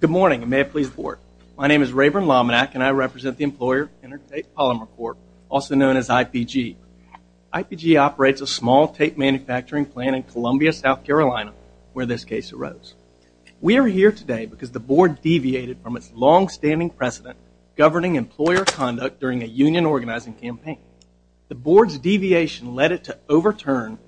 Good morning, and may it please the Board. My name is Rayburn Lominack, and I represent the Employer Intertape Polymer Corp., also known as IPG. IPG operates a small tape manufacturing plant in Columbia, South Carolina, where this case arose. We are here today because the Board deviated from its longstanding precedent governing employer conduct during a union organizing campaign. The Board's deviation led it to overturn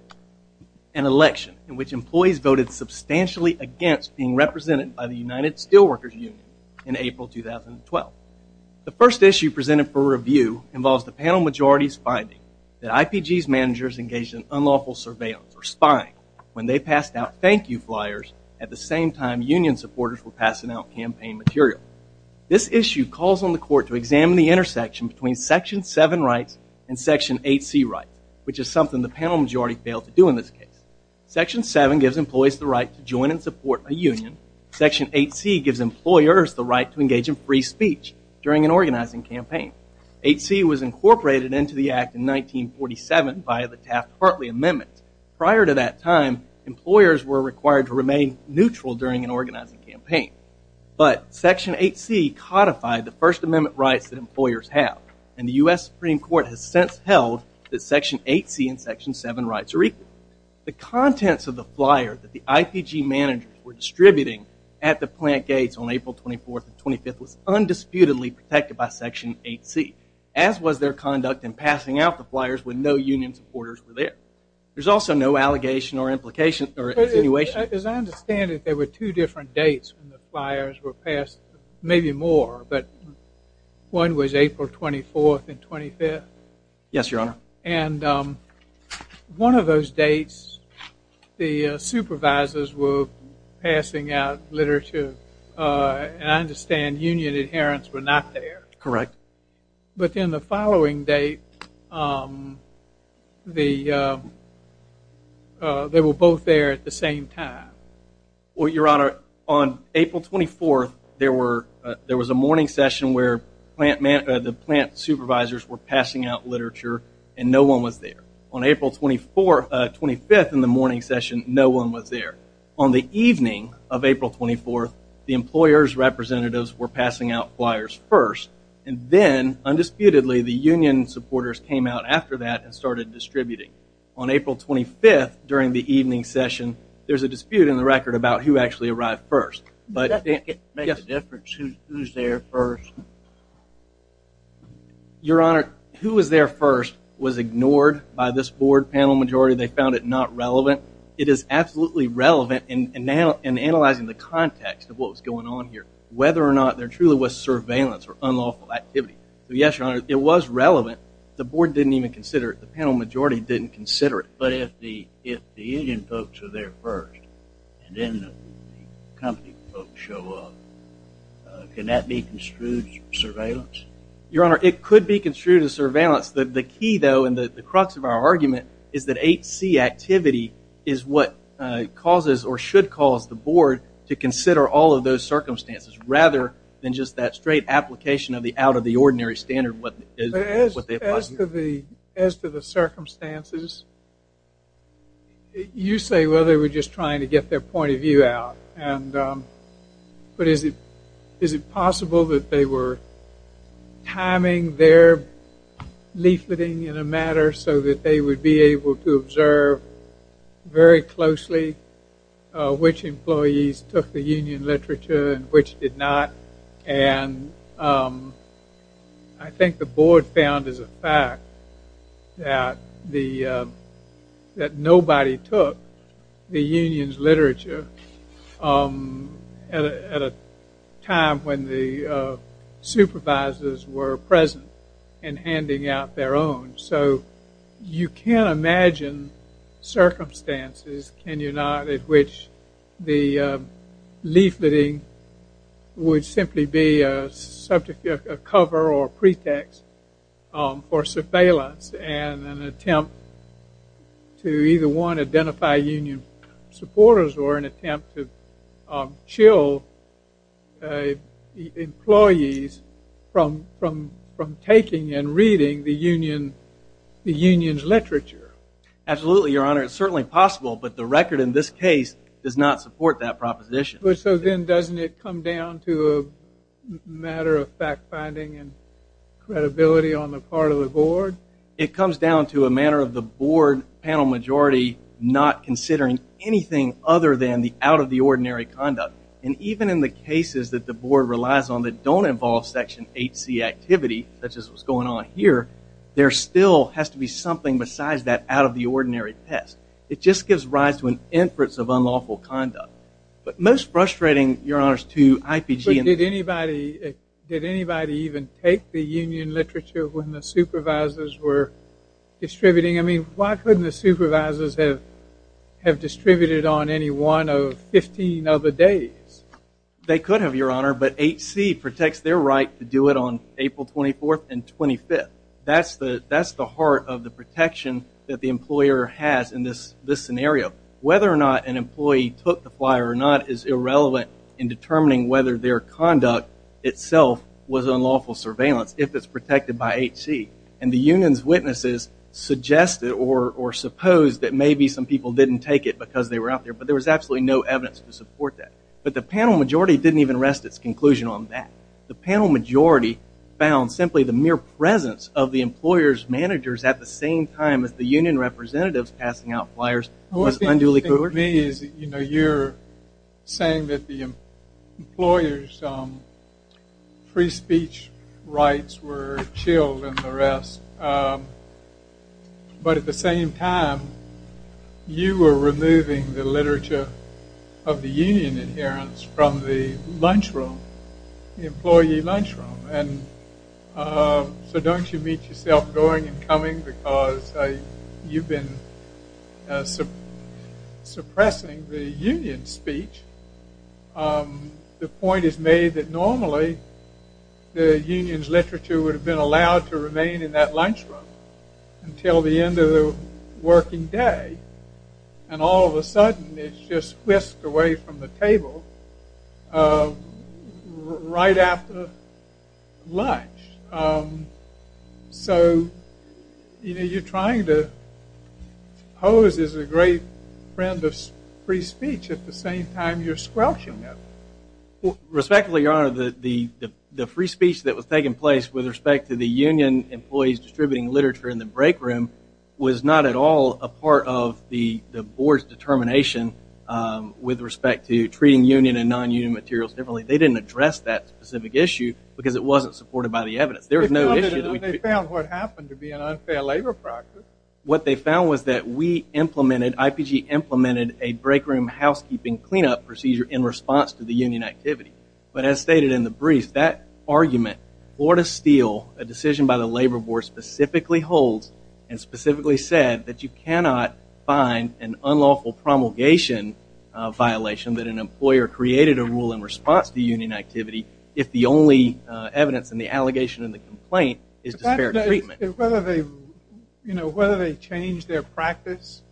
an election in which employees voted substantially against being represented by the United Steelworkers Union in April 2012. The first issue presented for review involves the panel majority's finding that IPG's managers engaged in unlawful surveillance or spying when they passed out thank you flyers at the same time union supporters were passing out campaign material. This issue calls on the Court to examine the intersection between Section 7 rights and Section 8C rights, which is something the panel majority failed to do in this case. Section 7 gives employees the right to join and support a union. Section 8C gives employers the right to engage in free speech during an organizing campaign. 8C was incorporated into the Act in 1947 by the Taft-Hartley Amendment. Prior to that time, employers were required to remain neutral during an organizing campaign. But Section 8C codified the First Amendment rights that employers have, and the U.S. Supreme Court has since held that Section 8C and Section 7 rights are equal. The contents of the flyer that the IPG managers were distributing at the plant gates on April 24th and 25th was undisputedly protected by Section 8C, as was their conduct in passing out the flyers when no union supporters were there. There's also no allegation or implication or attenuation. As I understand it, there were two different dates when the flyers were passed, maybe more, but one was April 24th and 25th? Yes, Your Honor. And one of those dates the supervisors were passing out literature, and I understand union adherents were not there. Correct. But in the following date, they were both there at the same time. Well, Your Honor, on April 24th, there was a morning session where the plant supervisors were passing out literature, and no one was there. On April 24th, 25th in the morning session, no one was there. On the evening of April 24th, the plant supervisors were passing out flyers first, and then, undisputedly, the union supporters came out after that and started distributing. On April 25th, during the evening session, there's a dispute in the record about who actually arrived first. Does that make a difference? Who's there first? Your Honor, who was there first was ignored by this board panel majority. They found it not relevant. It is absolutely relevant in analyzing the context of what truly was surveillance or unlawful activity. Yes, Your Honor, it was relevant. The board didn't even consider it. The panel majority didn't consider it. But if the union folks were there first, and then the company folks show up, can that be construed as surveillance? Your Honor, it could be construed as surveillance. The key, though, and the crux of our argument is that 8C activity is what causes or should cause the board to consider all of those circumstances. Rather than just that straight application of the out-of-the-ordinary standard. As to the circumstances, you say, well, they were just trying to get their point of view out. But is it possible that they were timing their leafleting in a manner so that they would be able to observe very closely which employees took the union literature and which did not? And I think the board found as a fact that nobody took the union's literature at a time when the supervisors were present and handing out their own. So you can imagine circumstances, can you not, at which the leafleting would simply be a cover or pretext for surveillance and an attempt to either, one, identify union supporters or an attempt to chill employees from taking and reading the union's literature. Absolutely, Your Honor. It's certainly possible, but the record in this case does not support that proposition. So then doesn't it come down to a matter of fact-finding and credibility on the part of the board? It comes down to a matter of the board panel majority not considering anything other than the out-of-the-ordinary conduct. And even in the cases that the board relies on that don't involve Section 8C activity, such as what's going on here, there still has to be something besides that out-of-the-ordinary test. It just gives rise to an inference of unlawful conduct. But most frustrating, Your Honor, to IPG and... But did anybody even take the union literature when the supervisors were distributing? I mean, why couldn't the supervisors have distributed on any one of 15 other days? They could have, Your Honor, but 8C protects their right to do it on April 24th and 25th. That's the heart of the protection that the employer has in this scenario. Whether or not an employee took the flyer or not is irrelevant in determining whether their conduct itself was unlawful surveillance if it's protected by 8C. And the union's witnesses suggested or supposed that maybe some people didn't take it because they were out there, but there was absolutely no evidence to support that. But the panel majority didn't even rest its conclusion on that. The panel majority found simply the mere presence of the employer's managers at the same time as the union representatives passing out flyers was unduly cruel. What you're saying to me is that you're saying that the employer's free speech rights were chilled and the rest, but at the same time, you were removing the literature of the union adherence from the lunchroom, the employee lunchroom. So don't you meet yourself going and coming because you've been suppressing the union speech. The point is made that normally the union's literature would have been allowed to remain in that lunchroom until the end of the working day. And all of a sudden, it's just whisked away from the table right after lunch. So you're trying to pose as a great friend of free speech at the same time you're squelching it. Respectfully, your honor, the free speech that was taking place with respect to the union employees distributing literature in the break room was not at all a part of the board's determination with respect to treating union and non-union materials differently. They didn't address that specific issue because it wasn't supported by the evidence. They found what happened to be an unfair labor practice. What they found was that we implemented, IPG implemented a break room housekeeping cleanup procedure in response to the union activity. But as stated in the brief, that argument or to steal a decision by the labor board specifically holds and specifically said that you cannot find an unlawful promulgation violation that an employer created a rule in response to union activity if the only evidence in the allegation and the complaint is disparate treatment. Whether they, you know, whether they changed their practice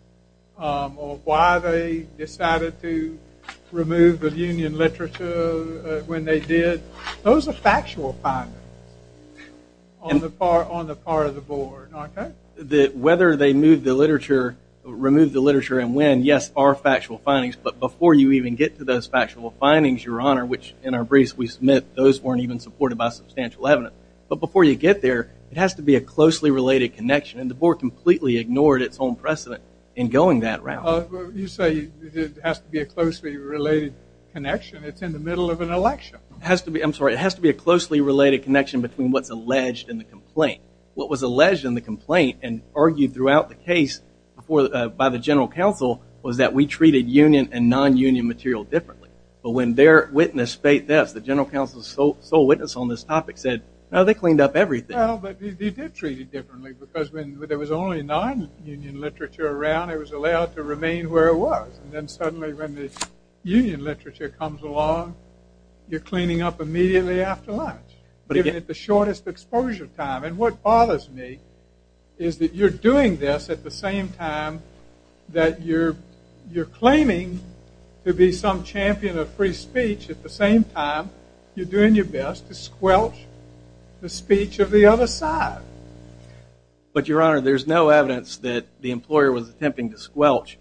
or why they decided to remove the union literature when they did, those are factual findings on the part of the board, okay? Whether they moved the literature, removed the literature and when, yes, are factual findings. But before you even get to those factual findings, your honor, which in our briefs we submit those weren't even supported by substantial evidence. But before you get there, it has to be a closely related connection and the board completely ignored its own precedent in going that route. You say it has to be a closely related connection. It's in the middle of an election. It has to be, I'm sorry, it has to be a closely related connection between what's alleged in the complaint. What was alleged in the complaint and argued throughout the case by the general counsel was that we treated union and non-union material differently. But when their witness, the general counsel's sole witness on this topic said, no, they cleaned up everything. Well, but they did treat it differently because when there was only non-union literature around, it was allowed to remain where it was. And then suddenly when the union literature comes along, you're cleaning up immediately after lunch, giving it the shortest exposure time. And what bothers me is that you're doing this at the same time that you're claiming to be some champion of free speech. At the same time, you're doing your best to squelch the speech of the other side. But Your Honor, there's no evidence that the employer was attempting to squelch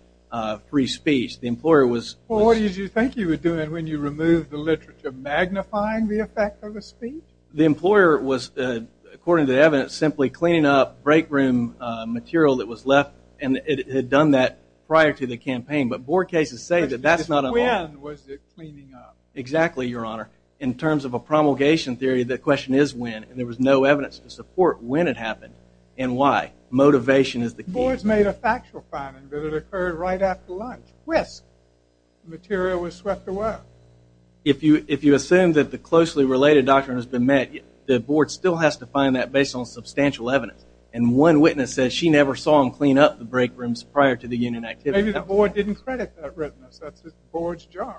free speech. The employer was... Well, what did you think you were doing when you removed the literature? Magnifying the effect of a speech? The employer was, according to the evidence, simply cleaning up break room material that was left. And it had done that prior to the campaign. But board cases say that that's not a... When was it cleaning up? Exactly, Your Honor. In terms of a promulgation theory, the question is when. And there was no evidence to support when it happened and why. Motivation is the key. Boards made a factual finding that it occurred right after lunch. Whisk. The material was swept away. If you assume that the closely related doctrine has been met, the board still has to find that based on substantial evidence. And one witness said she never saw them clean up the break rooms prior to the union activity. Maybe the board didn't credit that witness. That's the board's job.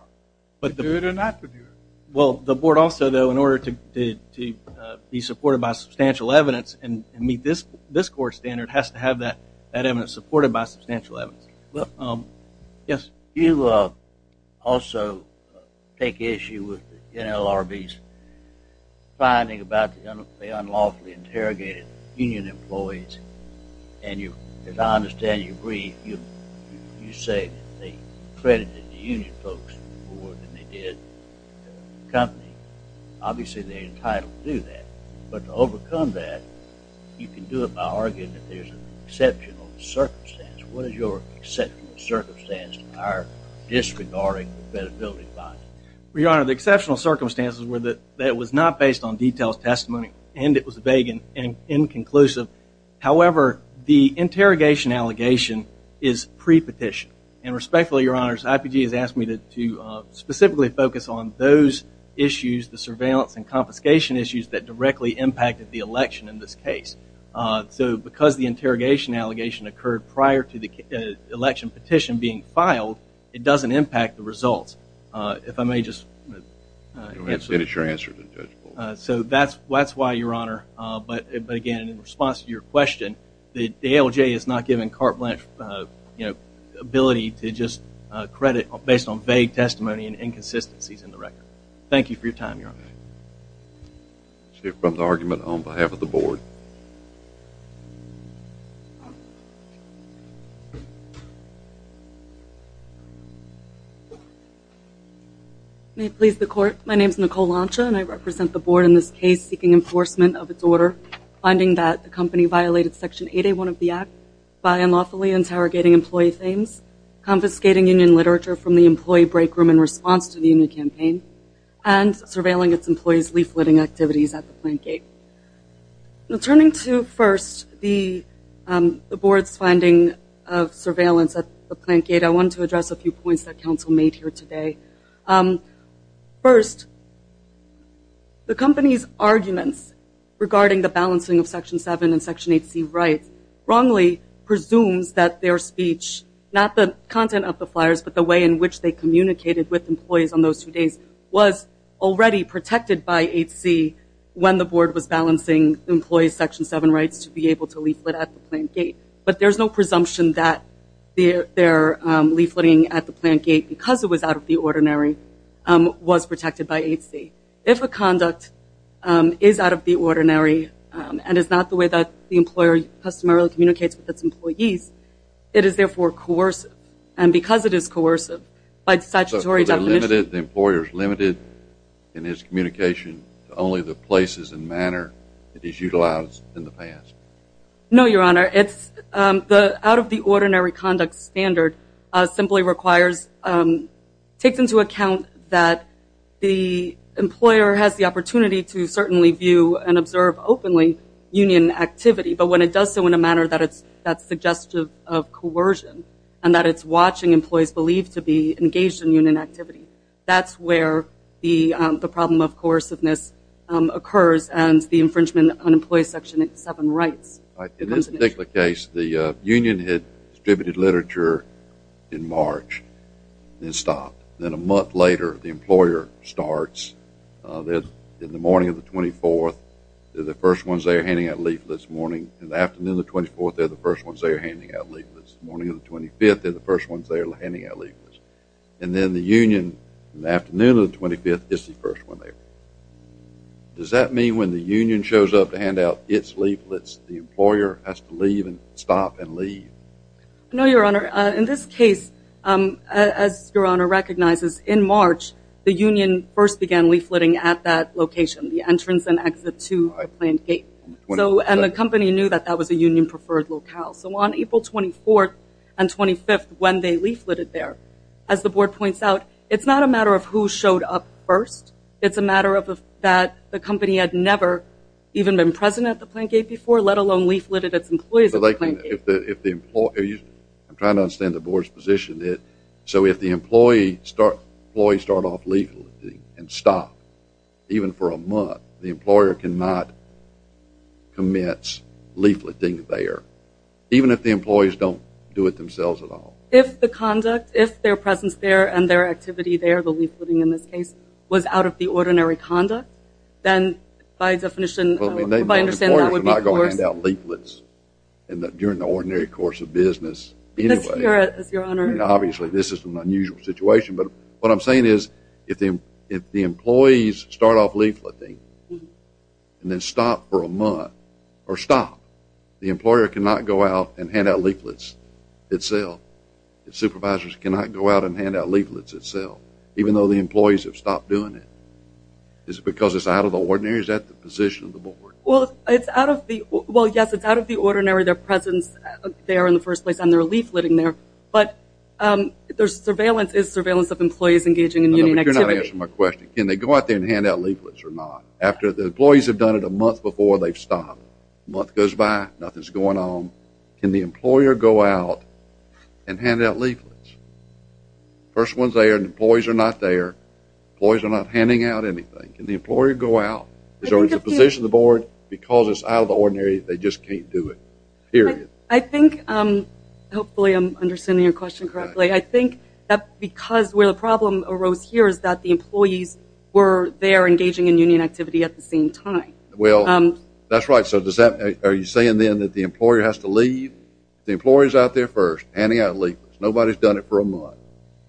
To do it or not to do it. Well, the board also, though, in order to be supported by substantial evidence and meet this court standard, has to have that evidence supported by substantial evidence. Yes? Do you also take issue with the NLRB's finding about the unlawfully interrogated union employees? And you, as I understand, you agree, you say they credited the union folks more than they did the company. Obviously, they're entitled to do that. But to overcome that, you can do it by arguing that there's an exceptional circumstance. What is your exceptional circumstance in our disregarding the credibility finding? Well, Your Honor, the exceptional circumstances were that it was not based on detailed testimony and it was vague and inconclusive. However, the interrogation allegation is pre-petition. And respectfully, Your Honor, IPG has asked me to specifically focus on those issues, the surveillance and confiscation issues that directly impacted the election in this case. So because the interrogation allegation occurred prior to the election petition being filed, it doesn't impact the results. If I may just... Go ahead and finish your answer. So that's why, Your Honor, but again, in response to your question, the ALJ is not given carte blanche ability to just credit based on vague testimony and inconsistencies in the record. Thank you for your time, Your Honor. We'll hear from the argument on behalf of the board. May it please the court, my name is Nicole Lancia and I represent the board in this case seeking enforcement of its order finding that the company violated Section 8A1 of the Act by unlawfully interrogating employee things, confiscating union literature from the employee break room in response to the union campaign, and surveilling its employees leafleting activities at the plant gate. Turning to first, the board's finding of surveillance at the plant gate, I want to address a few points that counsel made here today. First, the company's arguments regarding the balancing of Section 7 and Section 8C rights wrongly presumes that their speech, not the content of the flyers, but the way in which they communicated with employees on those two days was already protected by 8C when the board was balancing employees' Section 7 rights to be able to leaflet at the plant gate. But there's no presumption that their leafleting at the plant gate, because it was out of the ordinary, was protected by 8C. If a conduct is out of the ordinary and is not the way that the employer customarily communicates with its employees, it is therefore coercive. And because it is coercive, by statutory definition- So they're limited, the employer's limited in his communication to only the places and manner that he's utilized in the past. No, Your Honor. The out of the ordinary conduct standard simply requires, takes into account that the employer has the opportunity to certainly view and observe openly union activity. But when it does so in a manner that's suggestive of coercion and that it's watching employees believe to be engaged in union activity, that's where the problem of coerciveness occurs and the infringement on employee's Section 7 rights. In this particular case, the union had distributed literature in March and stopped. Then a month later, the employer starts. In the morning of the 24th, they're the first ones they're handing out leaflets. In the morning of the 24th, they're the first ones they're handing out leaflets. In the morning of the 25th, they're the first ones they're handing out leaflets. In the union, in the afternoon of the 25th, is the first one they're handing out leaflets. Does that mean, when the union shows up to hand out its leaflets, the employer has to leave or stop and leave? No, Your Honor. In this case, as Your Honor recognizes, in March, the union first began leafletting at that location, the entrance and exit to the plant gate. And the company knew that that was a union-preferred locale. So on April 24th and 25th, when they leafletted there, as the board points out, it's not a matter of who showed up first. It's a matter of that the company had never even been present at the plant gate before, let alone leafletted its employees at the plant gate. I'm trying to understand the board's position. So if the employees start off leafletting and stop, even for a month, the employer cannot commence leafletting there, even if the employees don't do it themselves at all? If their presence there and their activity there, the leafletting in this case, was out of the ordinary conduct, then by definition, the employer is not going to hand out leaflets during the ordinary course of business anyway. Yes, Your Honor. Obviously, this is an unusual situation. But what I'm saying is if the employees start off leafletting and then stop for a month, or stop, the employer cannot go out and hand out leaflets itself. The supervisors cannot go out and hand out leaflets itself, even though the employees have stopped doing it. Is it because it's out of the ordinary? Is that the position of the board? Well, yes, it's out of the ordinary, their presence there in the first place, and their leafletting there. But their surveillance is surveillance of employees engaging in union activity. You're not answering my question. Can they go out there and hand out leaflets or not? After the employees have done it a month before, they've stopped. A month goes by, nothing's going on. Can the employer go out and hand out leaflets? First one's there, and the employees are not there. Employees are not handing out anything. Can the employer go out? Is there a position of the board? Because it's out of the ordinary, they just can't do it, period. I think hopefully I'm understanding your question correctly. I think that because where the problem arose here is that the employees were there engaging in union activity at the same time. Well, that's right. So are you saying then that the employer has to leave? The employer's out there first, handing out leaflets. Nobody's done it for a month,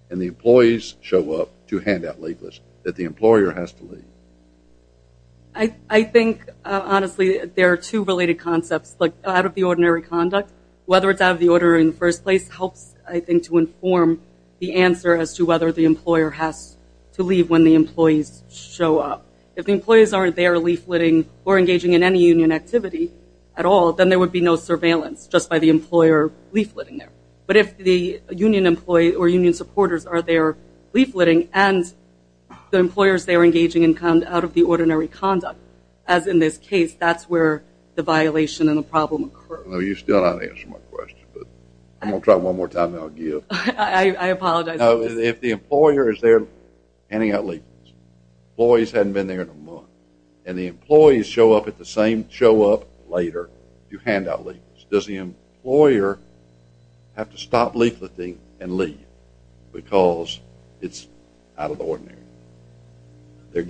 and the employees show up to hand out leaflets. That the employer has to leave. I think, honestly, there are two related concepts. Out of the ordinary conduct, whether it's out of the order in the first place, helps, I think, to inform the answer as to whether the employer has to leave when the employees show up. If the employees aren't there leafletting or engaging in any union activity at all, then there would be no surveillance just by the employer leafletting there. But if the union employee or union supporters are there leafletting, and the employers there are engaging out of the ordinary conduct, as in this case, that's where the violation and the problem occurs. You still haven't answered my question, but I'm going to try one more time and then I'll give. I apologize. If the employer is there handing out leaflets, employees hadn't been there in a month, and the employees show up at the same show up later to hand out leaflets, does the employer have to stop leafleting and leave because it's out of the ordinary? They're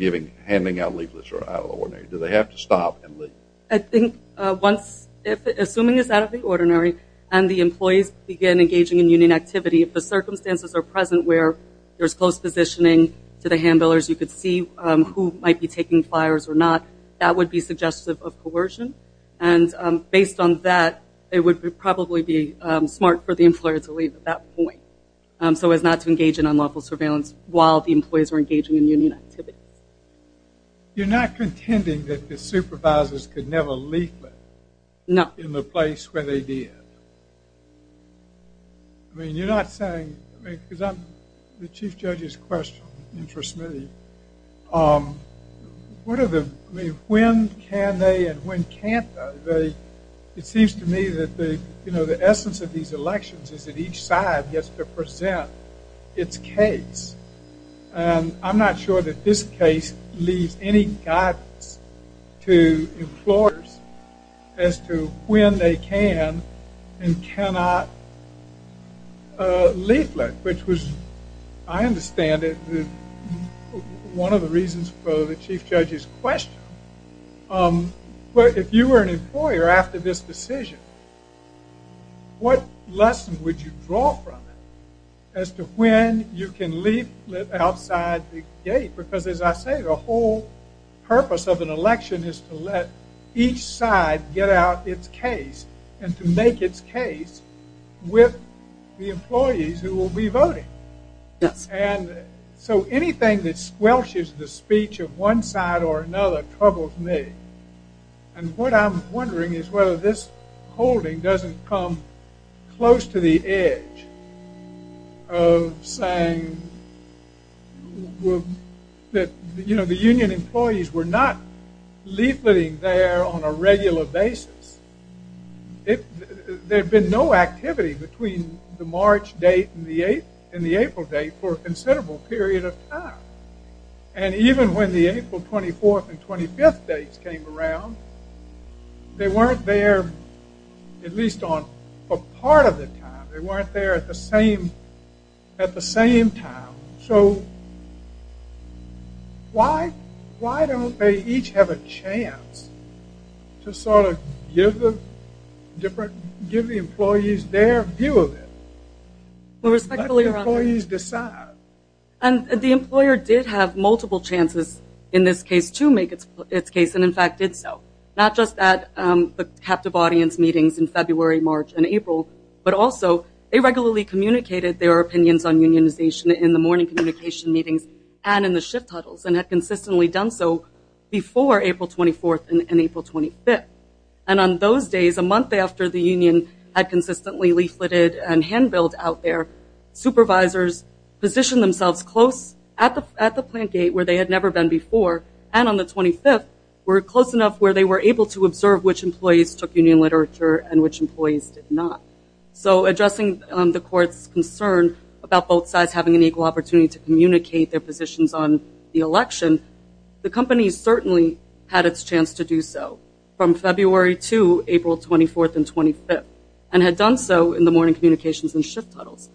handing out leaflets that are out of the ordinary. Do they have to stop and leave? I think assuming it's out of the ordinary and the employees begin engaging in union activity, if the circumstances are present where there's close positioning to the handlers, you could see who might be taking flyers or not, that would be suggestive of coercion. And based on that, it would probably be smart for the employer to leave at that point so as not to engage in unlawful surveillance while the employees are engaging in union activity. You're not contending that the supervisors could never leaflet in the place where they did? I mean, you're not saying, because the chief judge's question interests me, when can they and when can't they? It seems to me that the essence of these elections is that each side gets to present its case, and I'm not sure that this case leaves any guidance to employers as to when they can and cannot leaflet, which was, I understand, one of the reasons for the chief judge's question. But if you were an employer after this decision, what lesson would you draw from it as to when you can leaflet outside the gate? Because as I say, the whole purpose of an election is to let each side get out its case and to make its case with the employees who will be voting. And so anything that squelches the speech of one side or another troubles me. And what I'm wondering is whether this holding doesn't come close to the edge of saying that the union employees were not leafleting there on a regular basis. There had been no activity between the March date and the April date for a considerable period of time. And even when the April 24th and 25th dates came around, they weren't there at least on a part of the time. They weren't there at the same time. So why don't they each have a chance to sort of give the employees their view of it? Let the employees decide. And the employer did have multiple chances in this case to make its case, and in fact did so. Not just at the captive audience meetings in February, March, and April, but also they regularly communicated their opinions on unionization in the morning communication meetings and in the shift huddles and had consistently done so before April 24th and April 25th. And on those days, a month after the union had consistently leafleted and hand-billed out there, supervisors positioned themselves close at the plant gate where they had never been before, and on the 25th were close enough where they were able to observe which employees took union literature and which employees did not. So addressing the court's concern about both sides having an equal opportunity to communicate their positions on the election, the company certainly had its chance to do so from February to April 24th and 25th and had done so in the morning communications and shift huddles.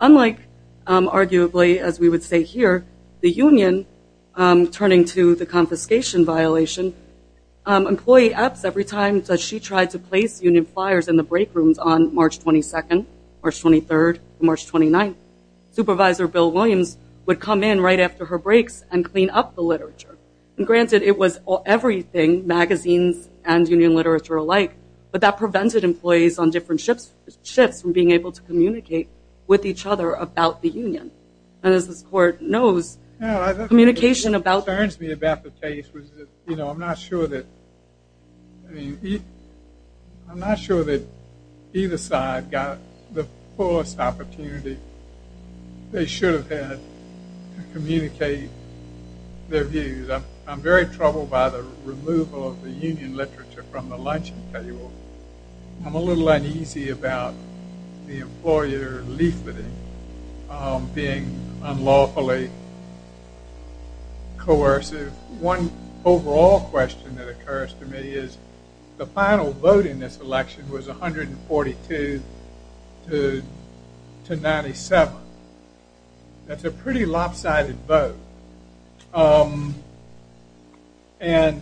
Unlike, arguably, as we would say here, the union turning to the confiscation violation, employee apps every time that she tried to place union flyers in the break rooms on March 22nd, March 23rd, March 29th, Supervisor Bill Williams would come in right after her breaks and clean up the literature. Granted, it was everything, magazines and union literature alike, but that prevented employees on different shifts from being able to communicate with each other about the union. And as this court knows, communication about the case was, you know, I'm not sure that either side got the fullest opportunity they should have had to communicate their views. I'm very troubled by the removal of the union literature from the luncheon table. I'm a little uneasy about the employer leafleting being unlawfully coercive. One overall question that occurs to me is the final vote in this election was 142 to 97. That's a pretty lopsided vote. And,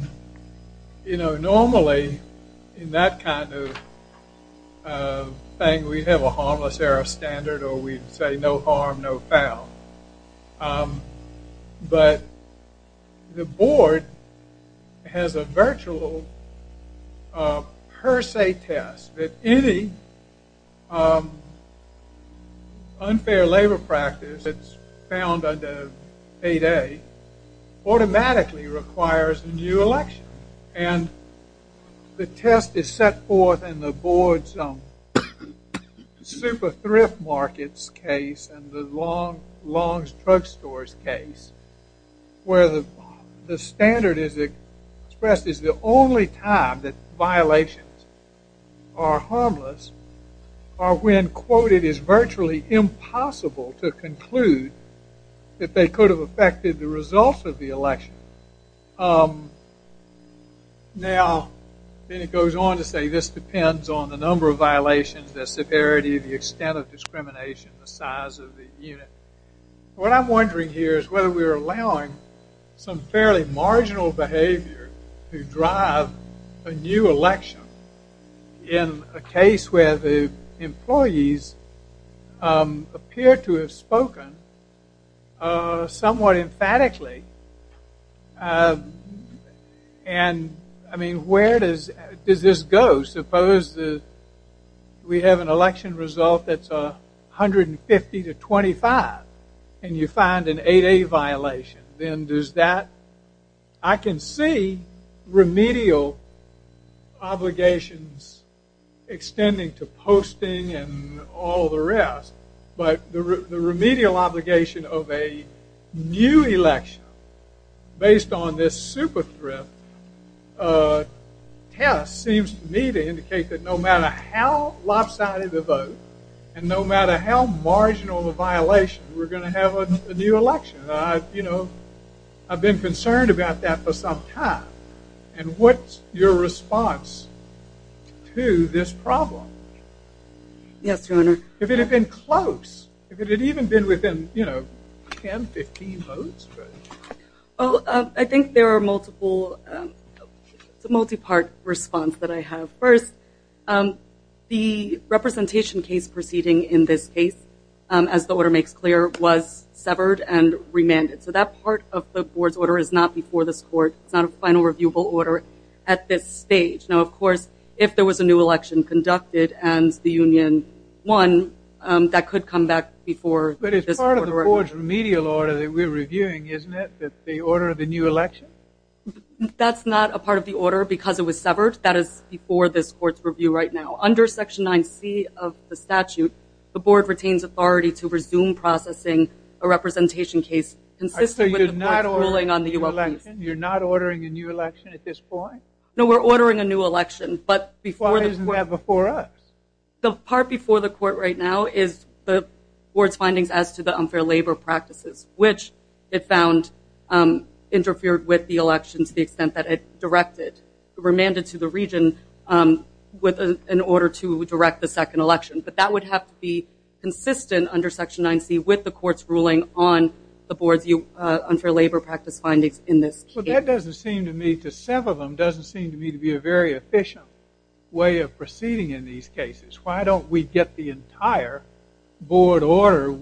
you know, normally in that kind of thing we'd have a harmless error standard or we'd say no harm, no foul. But the board has a virtual per se test that any unfair labor practice that's found under 8A automatically requires a new election. And the test is set forth in the board's super thrift markets case and the Long's Drug Stores case, where the standard is expressed as the only time that violations are harmless are when, quote, it is virtually impossible to conclude that they could have affected the results of the election. Now, then it goes on to say this depends on the number of violations, the severity, the extent of discrimination, the size of the unit. What I'm wondering here is whether we're allowing some fairly marginal behavior to drive a new election in a case where the employees appear to have spoken somewhat emphatically. And, I mean, where does this go? Suppose that we have an election result that's 150 to 25 and you find an 8A violation. Then does that – I can see remedial obligations extending to posting and all the rest, but the remedial obligation of a new election based on this super thrift test seems to me to indicate that no matter how lopsided the vote and no matter how marginal the violation, we're going to have a new election. You know, I've been concerned about that for some time. And what's your response to this problem? Yes, Your Honor. If it had been close, if it had even been within 10, 15 votes. Well, I think there are multiple – it's a multi-part response that I have. First, the representation case proceeding in this case, as the order makes clear, was severed and remanded. So that part of the board's order is not before this court. It's not a final reviewable order at this stage. Now, of course, if there was a new election conducted and the union won, that could come back before this court. But it's part of the board's remedial order that we're reviewing, isn't it, the order of the new election? That's not a part of the order because it was severed. That is before this court's review right now. Under Section 9C of the statute, the board retains authority to resume processing a representation case consistent with the board's ruling on the U.S. case. You're not ordering a new election at this point? No, we're ordering a new election. Why isn't that before us? The part before the court right now is the board's findings as to the unfair labor practices, which it found interfered with the election to the extent that it directed, remanded to the region in order to direct the second election. But that would have to be consistent under Section 9C with the court's ruling on the board's unfair labor practice findings in this case. Well, that doesn't seem to me to sever them, doesn't seem to me to be a very efficient way of proceeding in these cases. Why don't we get the entire board order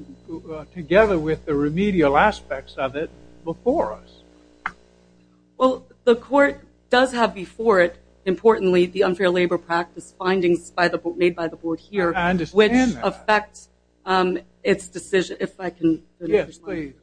together with the remedial aspects of it before us? Well, the court does have before it, importantly, the unfair labor practice findings made by the board here, which affect its decision, if I can finish this line. Yes, please.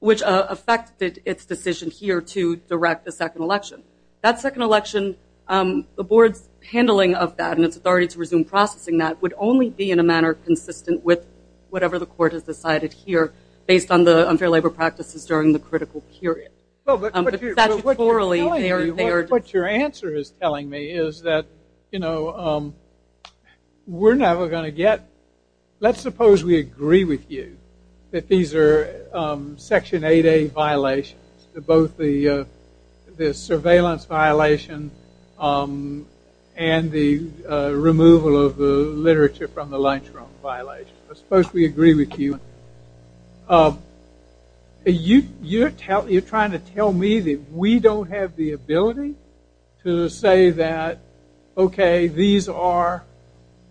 Which affected its decision here to direct the second election. That second election, the board's handling of that and its authority to resume processing that would only be in a manner consistent with whatever the court has decided here based on the unfair labor practices during the critical period. But statutorily, they are- What your answer is telling me is that we're never going to get- Section 8A violations, both the surveillance violation and the removal of the literature from the lunchroom violation. I suppose we agree with you. You're trying to tell me that we don't have the ability to say that, okay, these are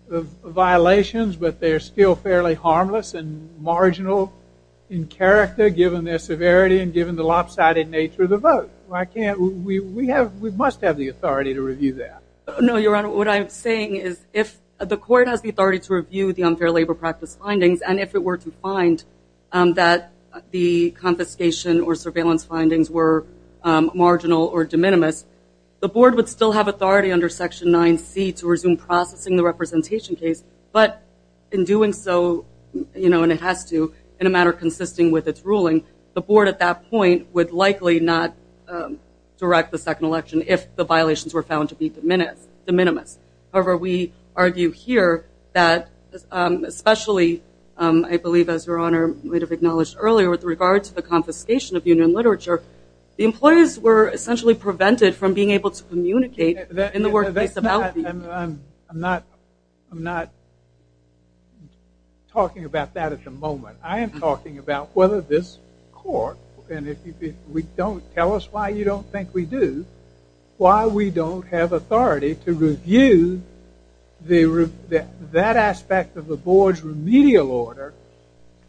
violations, but they're still fairly harmless and marginal in character given their severity and given the lopsided nature of the vote. We must have the authority to review that. No, Your Honor, what I'm saying is if the court has the authority to review the unfair labor practice findings and if it were to find that the confiscation or surveillance findings were marginal or de minimis, the board would still have authority under Section 9C to resume processing the representation case, but in doing so, you know, and it has to, in a manner consisting with its ruling, the board at that point would likely not direct the second election if the violations were found to be de minimis. However, we argue here that especially, I believe, as Your Honor might have acknowledged earlier with regard to the confiscation of union literature, the employees were essentially prevented from being able to communicate in the workplace about the- I'm not talking about that at the moment. I am talking about whether this court, and if you don't tell us why you don't think we do, why we don't have authority to review that aspect of the board's remedial order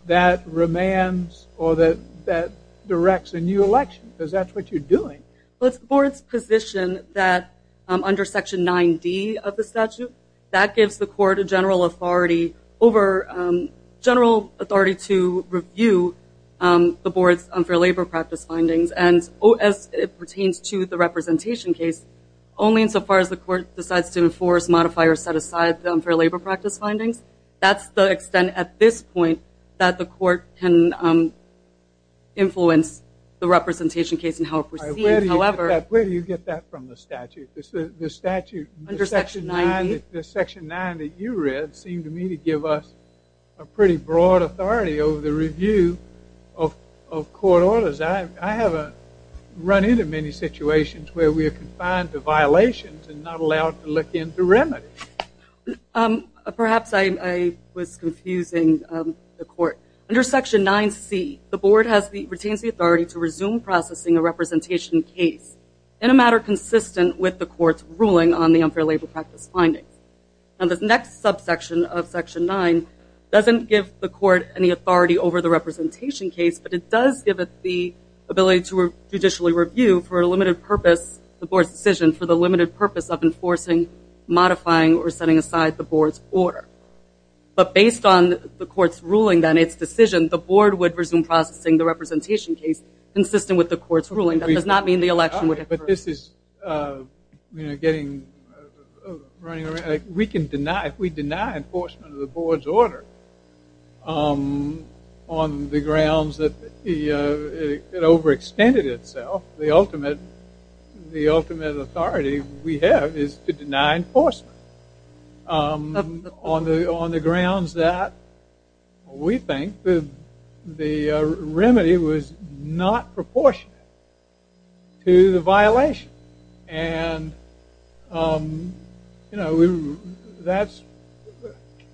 that demands or that directs a new election, because that's what you're doing. Well, it's the board's position that under Section 9D of the statute, that gives the court a general authority over- general authority to review the board's unfair labor practice findings, and as it pertains to the representation case, only insofar as the court decides to enforce, modify, or set aside the unfair labor practice findings, that's the extent at this point that the court can influence the representation case and how it proceeds. However- Where do you get that from, the statute? The statute- Under Section 9D. The Section 9 that you read seemed to me to give us a pretty broad authority over the review of court orders. I haven't run into many situations where we are confined to violations and not allowed to look into remedies. Perhaps I was confusing the court. Under Section 9C, the board retains the authority to resume processing a representation case in a matter consistent with the court's ruling on the unfair labor practice findings. The next subsection of Section 9 doesn't give the court any authority over the representation case, but it does give it the ability to judicially review for a limited purpose, the board's decision, for the limited purpose of enforcing, modifying, or setting aside the board's order. But based on the court's ruling, then, its decision, the board would resume processing the representation case consistent with the court's ruling. That does not mean the election would occur. But this is getting running around. We can deny, if we deny enforcement of the board's order on the grounds that it overextended itself, the ultimate authority we have is to deny enforcement on the grounds that, we think, the remedy was not proportionate to the violation.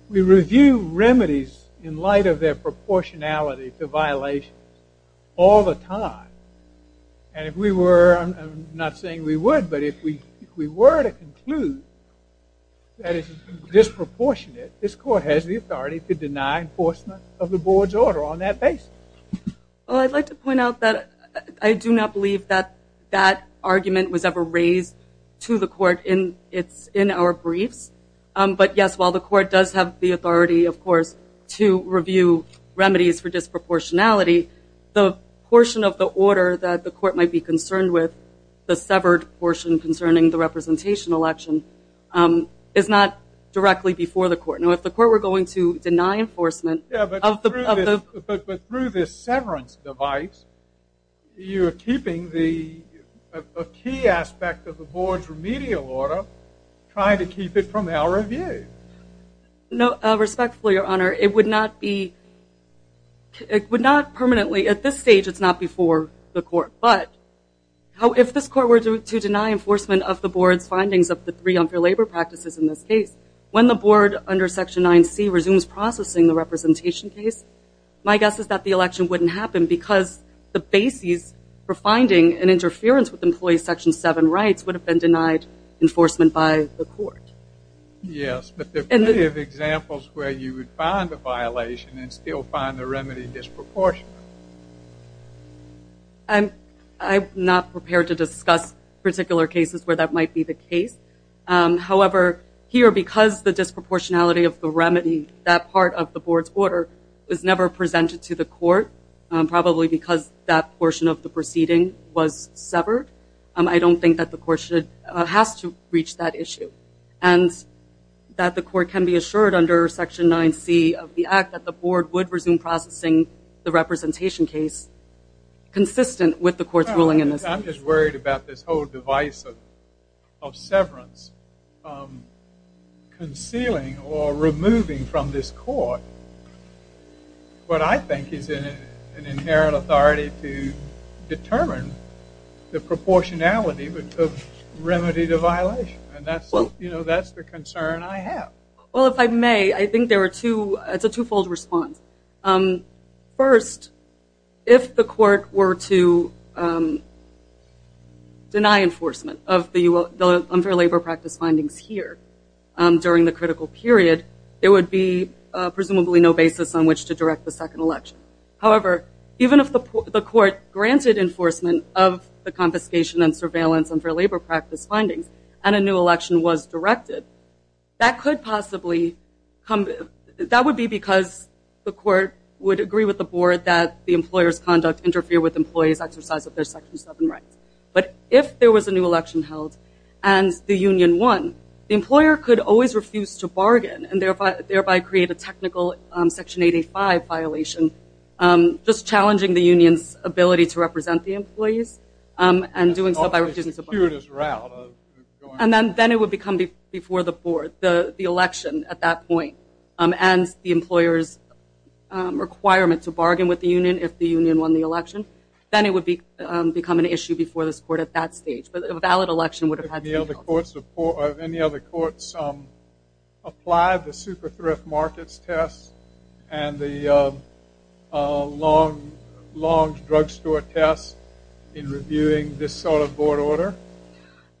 We review remedies in light of their proportionality to violations all the time. And if we were, I'm not saying we would, but if we were to conclude that it's disproportionate, this court has the authority to deny enforcement of the board's order on that basis. Well, I'd like to point out that I do not believe that that argument was ever raised to the court in our briefs. But, yes, while the court does have the authority, of course, to review remedies for disproportionality, the portion of the order that the court might be concerned with, the severed portion concerning the representation election, is not directly before the court. Now, if the court were going to deny enforcement of the... Yeah, but through this severance device, you're keeping the key aspect of the board's remedial order, trying to keep it from our review. No, respectfully, Your Honor, it would not be, but if this court were to deny enforcement of the board's findings of the three unfair labor practices in this case, when the board under Section 9C resumes processing the representation case, my guess is that the election wouldn't happen because the basis for finding an interference with employee Section 7 rights would have been denied enforcement by the court. Yes, but there are plenty of examples where you would find a violation and still find the remedy disproportionate. I'm not prepared to discuss particular cases where that might be the case. However, here, because the disproportionality of the remedy, that part of the board's order, was never presented to the court, probably because that portion of the proceeding was severed, I don't think that the court has to reach that issue and that the court can be assured under Section 9C of the Act that the board would resume processing the representation case consistent with the court's ruling in this case. I'm just worried about this whole device of severance concealing or removing from this court what I think is an inherent authority to determine the proportionality of remedy to violation, and that's the concern I have. Well, if I may, I think it's a twofold response. First, if the court were to deny enforcement of the unfair labor practice findings here during the critical period, there would be presumably no basis on which to direct the second election. However, even if the court granted enforcement of the confiscation and surveillance unfair labor practice findings and a new election was directed, that would be because the court would agree with the board that the employer's conduct interfered with employees' exercise of their Section 7 rights. But if there was a new election held and the union won, the employer could always refuse to bargain and thereby create a technical Section 8A5 violation, just challenging the union's ability to represent the employees and doing so by refusing to bargain. And then it would become before the board, the election at that point, and the employer's requirement to bargain with the union if the union won the election. Then it would become an issue before this court at that stage. But a valid election would have had to be held. Have any other courts applied the Super Thrift Markets test and the Long's Drugstore test in reviewing this sort of board order?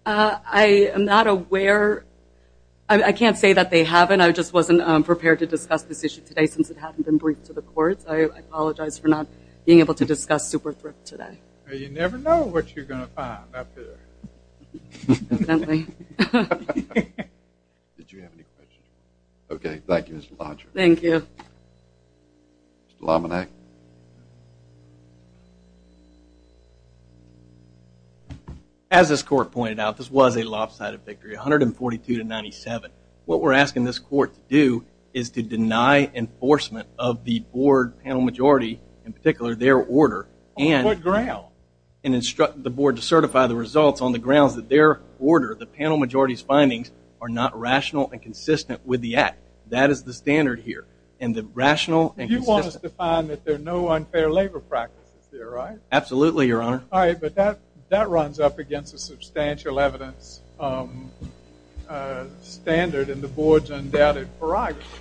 I am not aware. I can't say that they haven't. I just wasn't prepared to discuss this issue today since it hadn't been briefed to the courts. I apologize for not being able to discuss Super Thrift today. You never know what you're going to find up there. Definitely. Did you have any questions? Okay, thank you, Mr. Blanchard. Thank you. Mr. Laminac. As this court pointed out, this was a lopsided victory, 142 to 97. What we're asking this court to do is to deny enforcement of the board panel majority, in particular their order, and instruct the board to certify the results on the grounds that their order, the panel majority's findings, are not rational and consistent with the act. That is the standard here, and the rational and consistent. You want us to find that there are no unfair labor practices there, right? Absolutely, Your Honor. All right, but that runs up against a substantial evidence standard in the board's undoubted prerogative.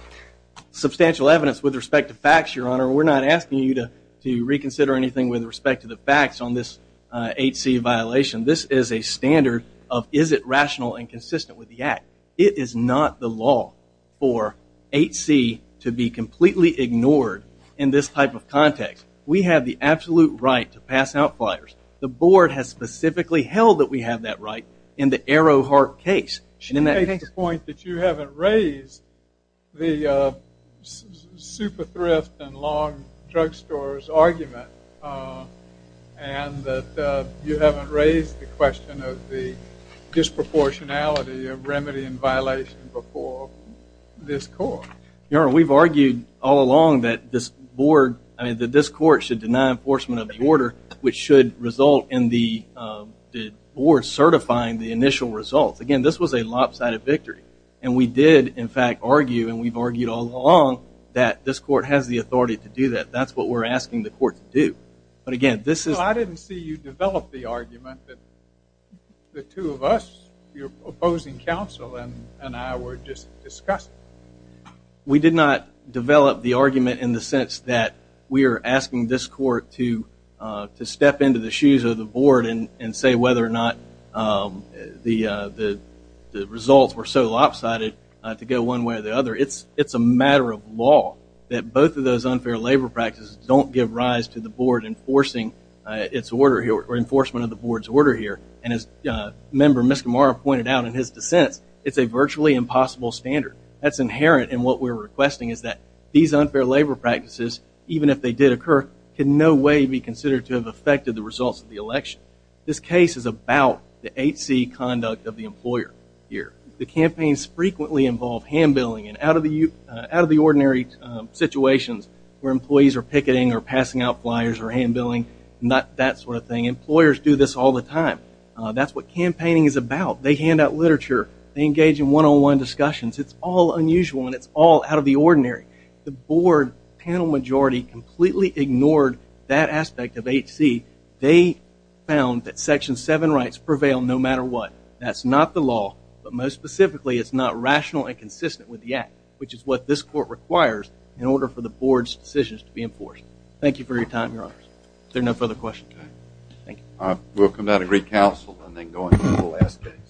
Substantial evidence with respect to facts, Your Honor. We're not asking you to reconsider anything with respect to the facts on this 8C violation. This is a standard of is it rational and consistent with the act. It is not the law for 8C to be completely ignored in this type of context. We have the absolute right to pass out flyers. The board has specifically held that we have that right in the Arrowhart case. You make the point that you haven't raised the super thrift and long drugstore's argument, and that you haven't raised the question of the disproportionality of remedy and violation before this court. Your Honor, we've argued all along that this court should deny enforcement of the order, which should result in the board certifying the initial results. Again, this was a lopsided victory, and we did, in fact, argue, and we've argued all along that this court has the authority to do that. That's what we're asking the court to do. I didn't see you develop the argument that the two of us, your opposing counsel and I, were just discussing. We did not develop the argument in the sense that we are asking this court to step into the shoes of the board and say whether or not the results were so lopsided to go one way or the other. It's a matter of law that both of those unfair labor practices don't give rise to the board enforcing its order here, or enforcement of the board's order here. And as Member Miscimarra pointed out in his dissents, it's a virtually impossible standard. That's inherent in what we're requesting is that these unfair labor practices, even if they did occur, could in no way be considered to have affected the results of the election. This case is about the 8C conduct of the employer here. The campaigns frequently involve hand-billing and out-of-the-ordinary situations where employees are picketing or passing out flyers or hand-billing, not that sort of thing. Employers do this all the time. That's what campaigning is about. They hand out literature. They engage in one-on-one discussions. It's all unusual, and it's all out of the ordinary. The board panel majority completely ignored that aspect of 8C. They found that Section 7 rights prevail no matter what. That's not the law, but most specifically, it's not rational and consistent with the Act, which is what this court requires in order for the board's decisions to be enforced. Thank you for your time, Your Honors. If there are no further questions, thank you. We'll come down and recouncil and then go into the last case.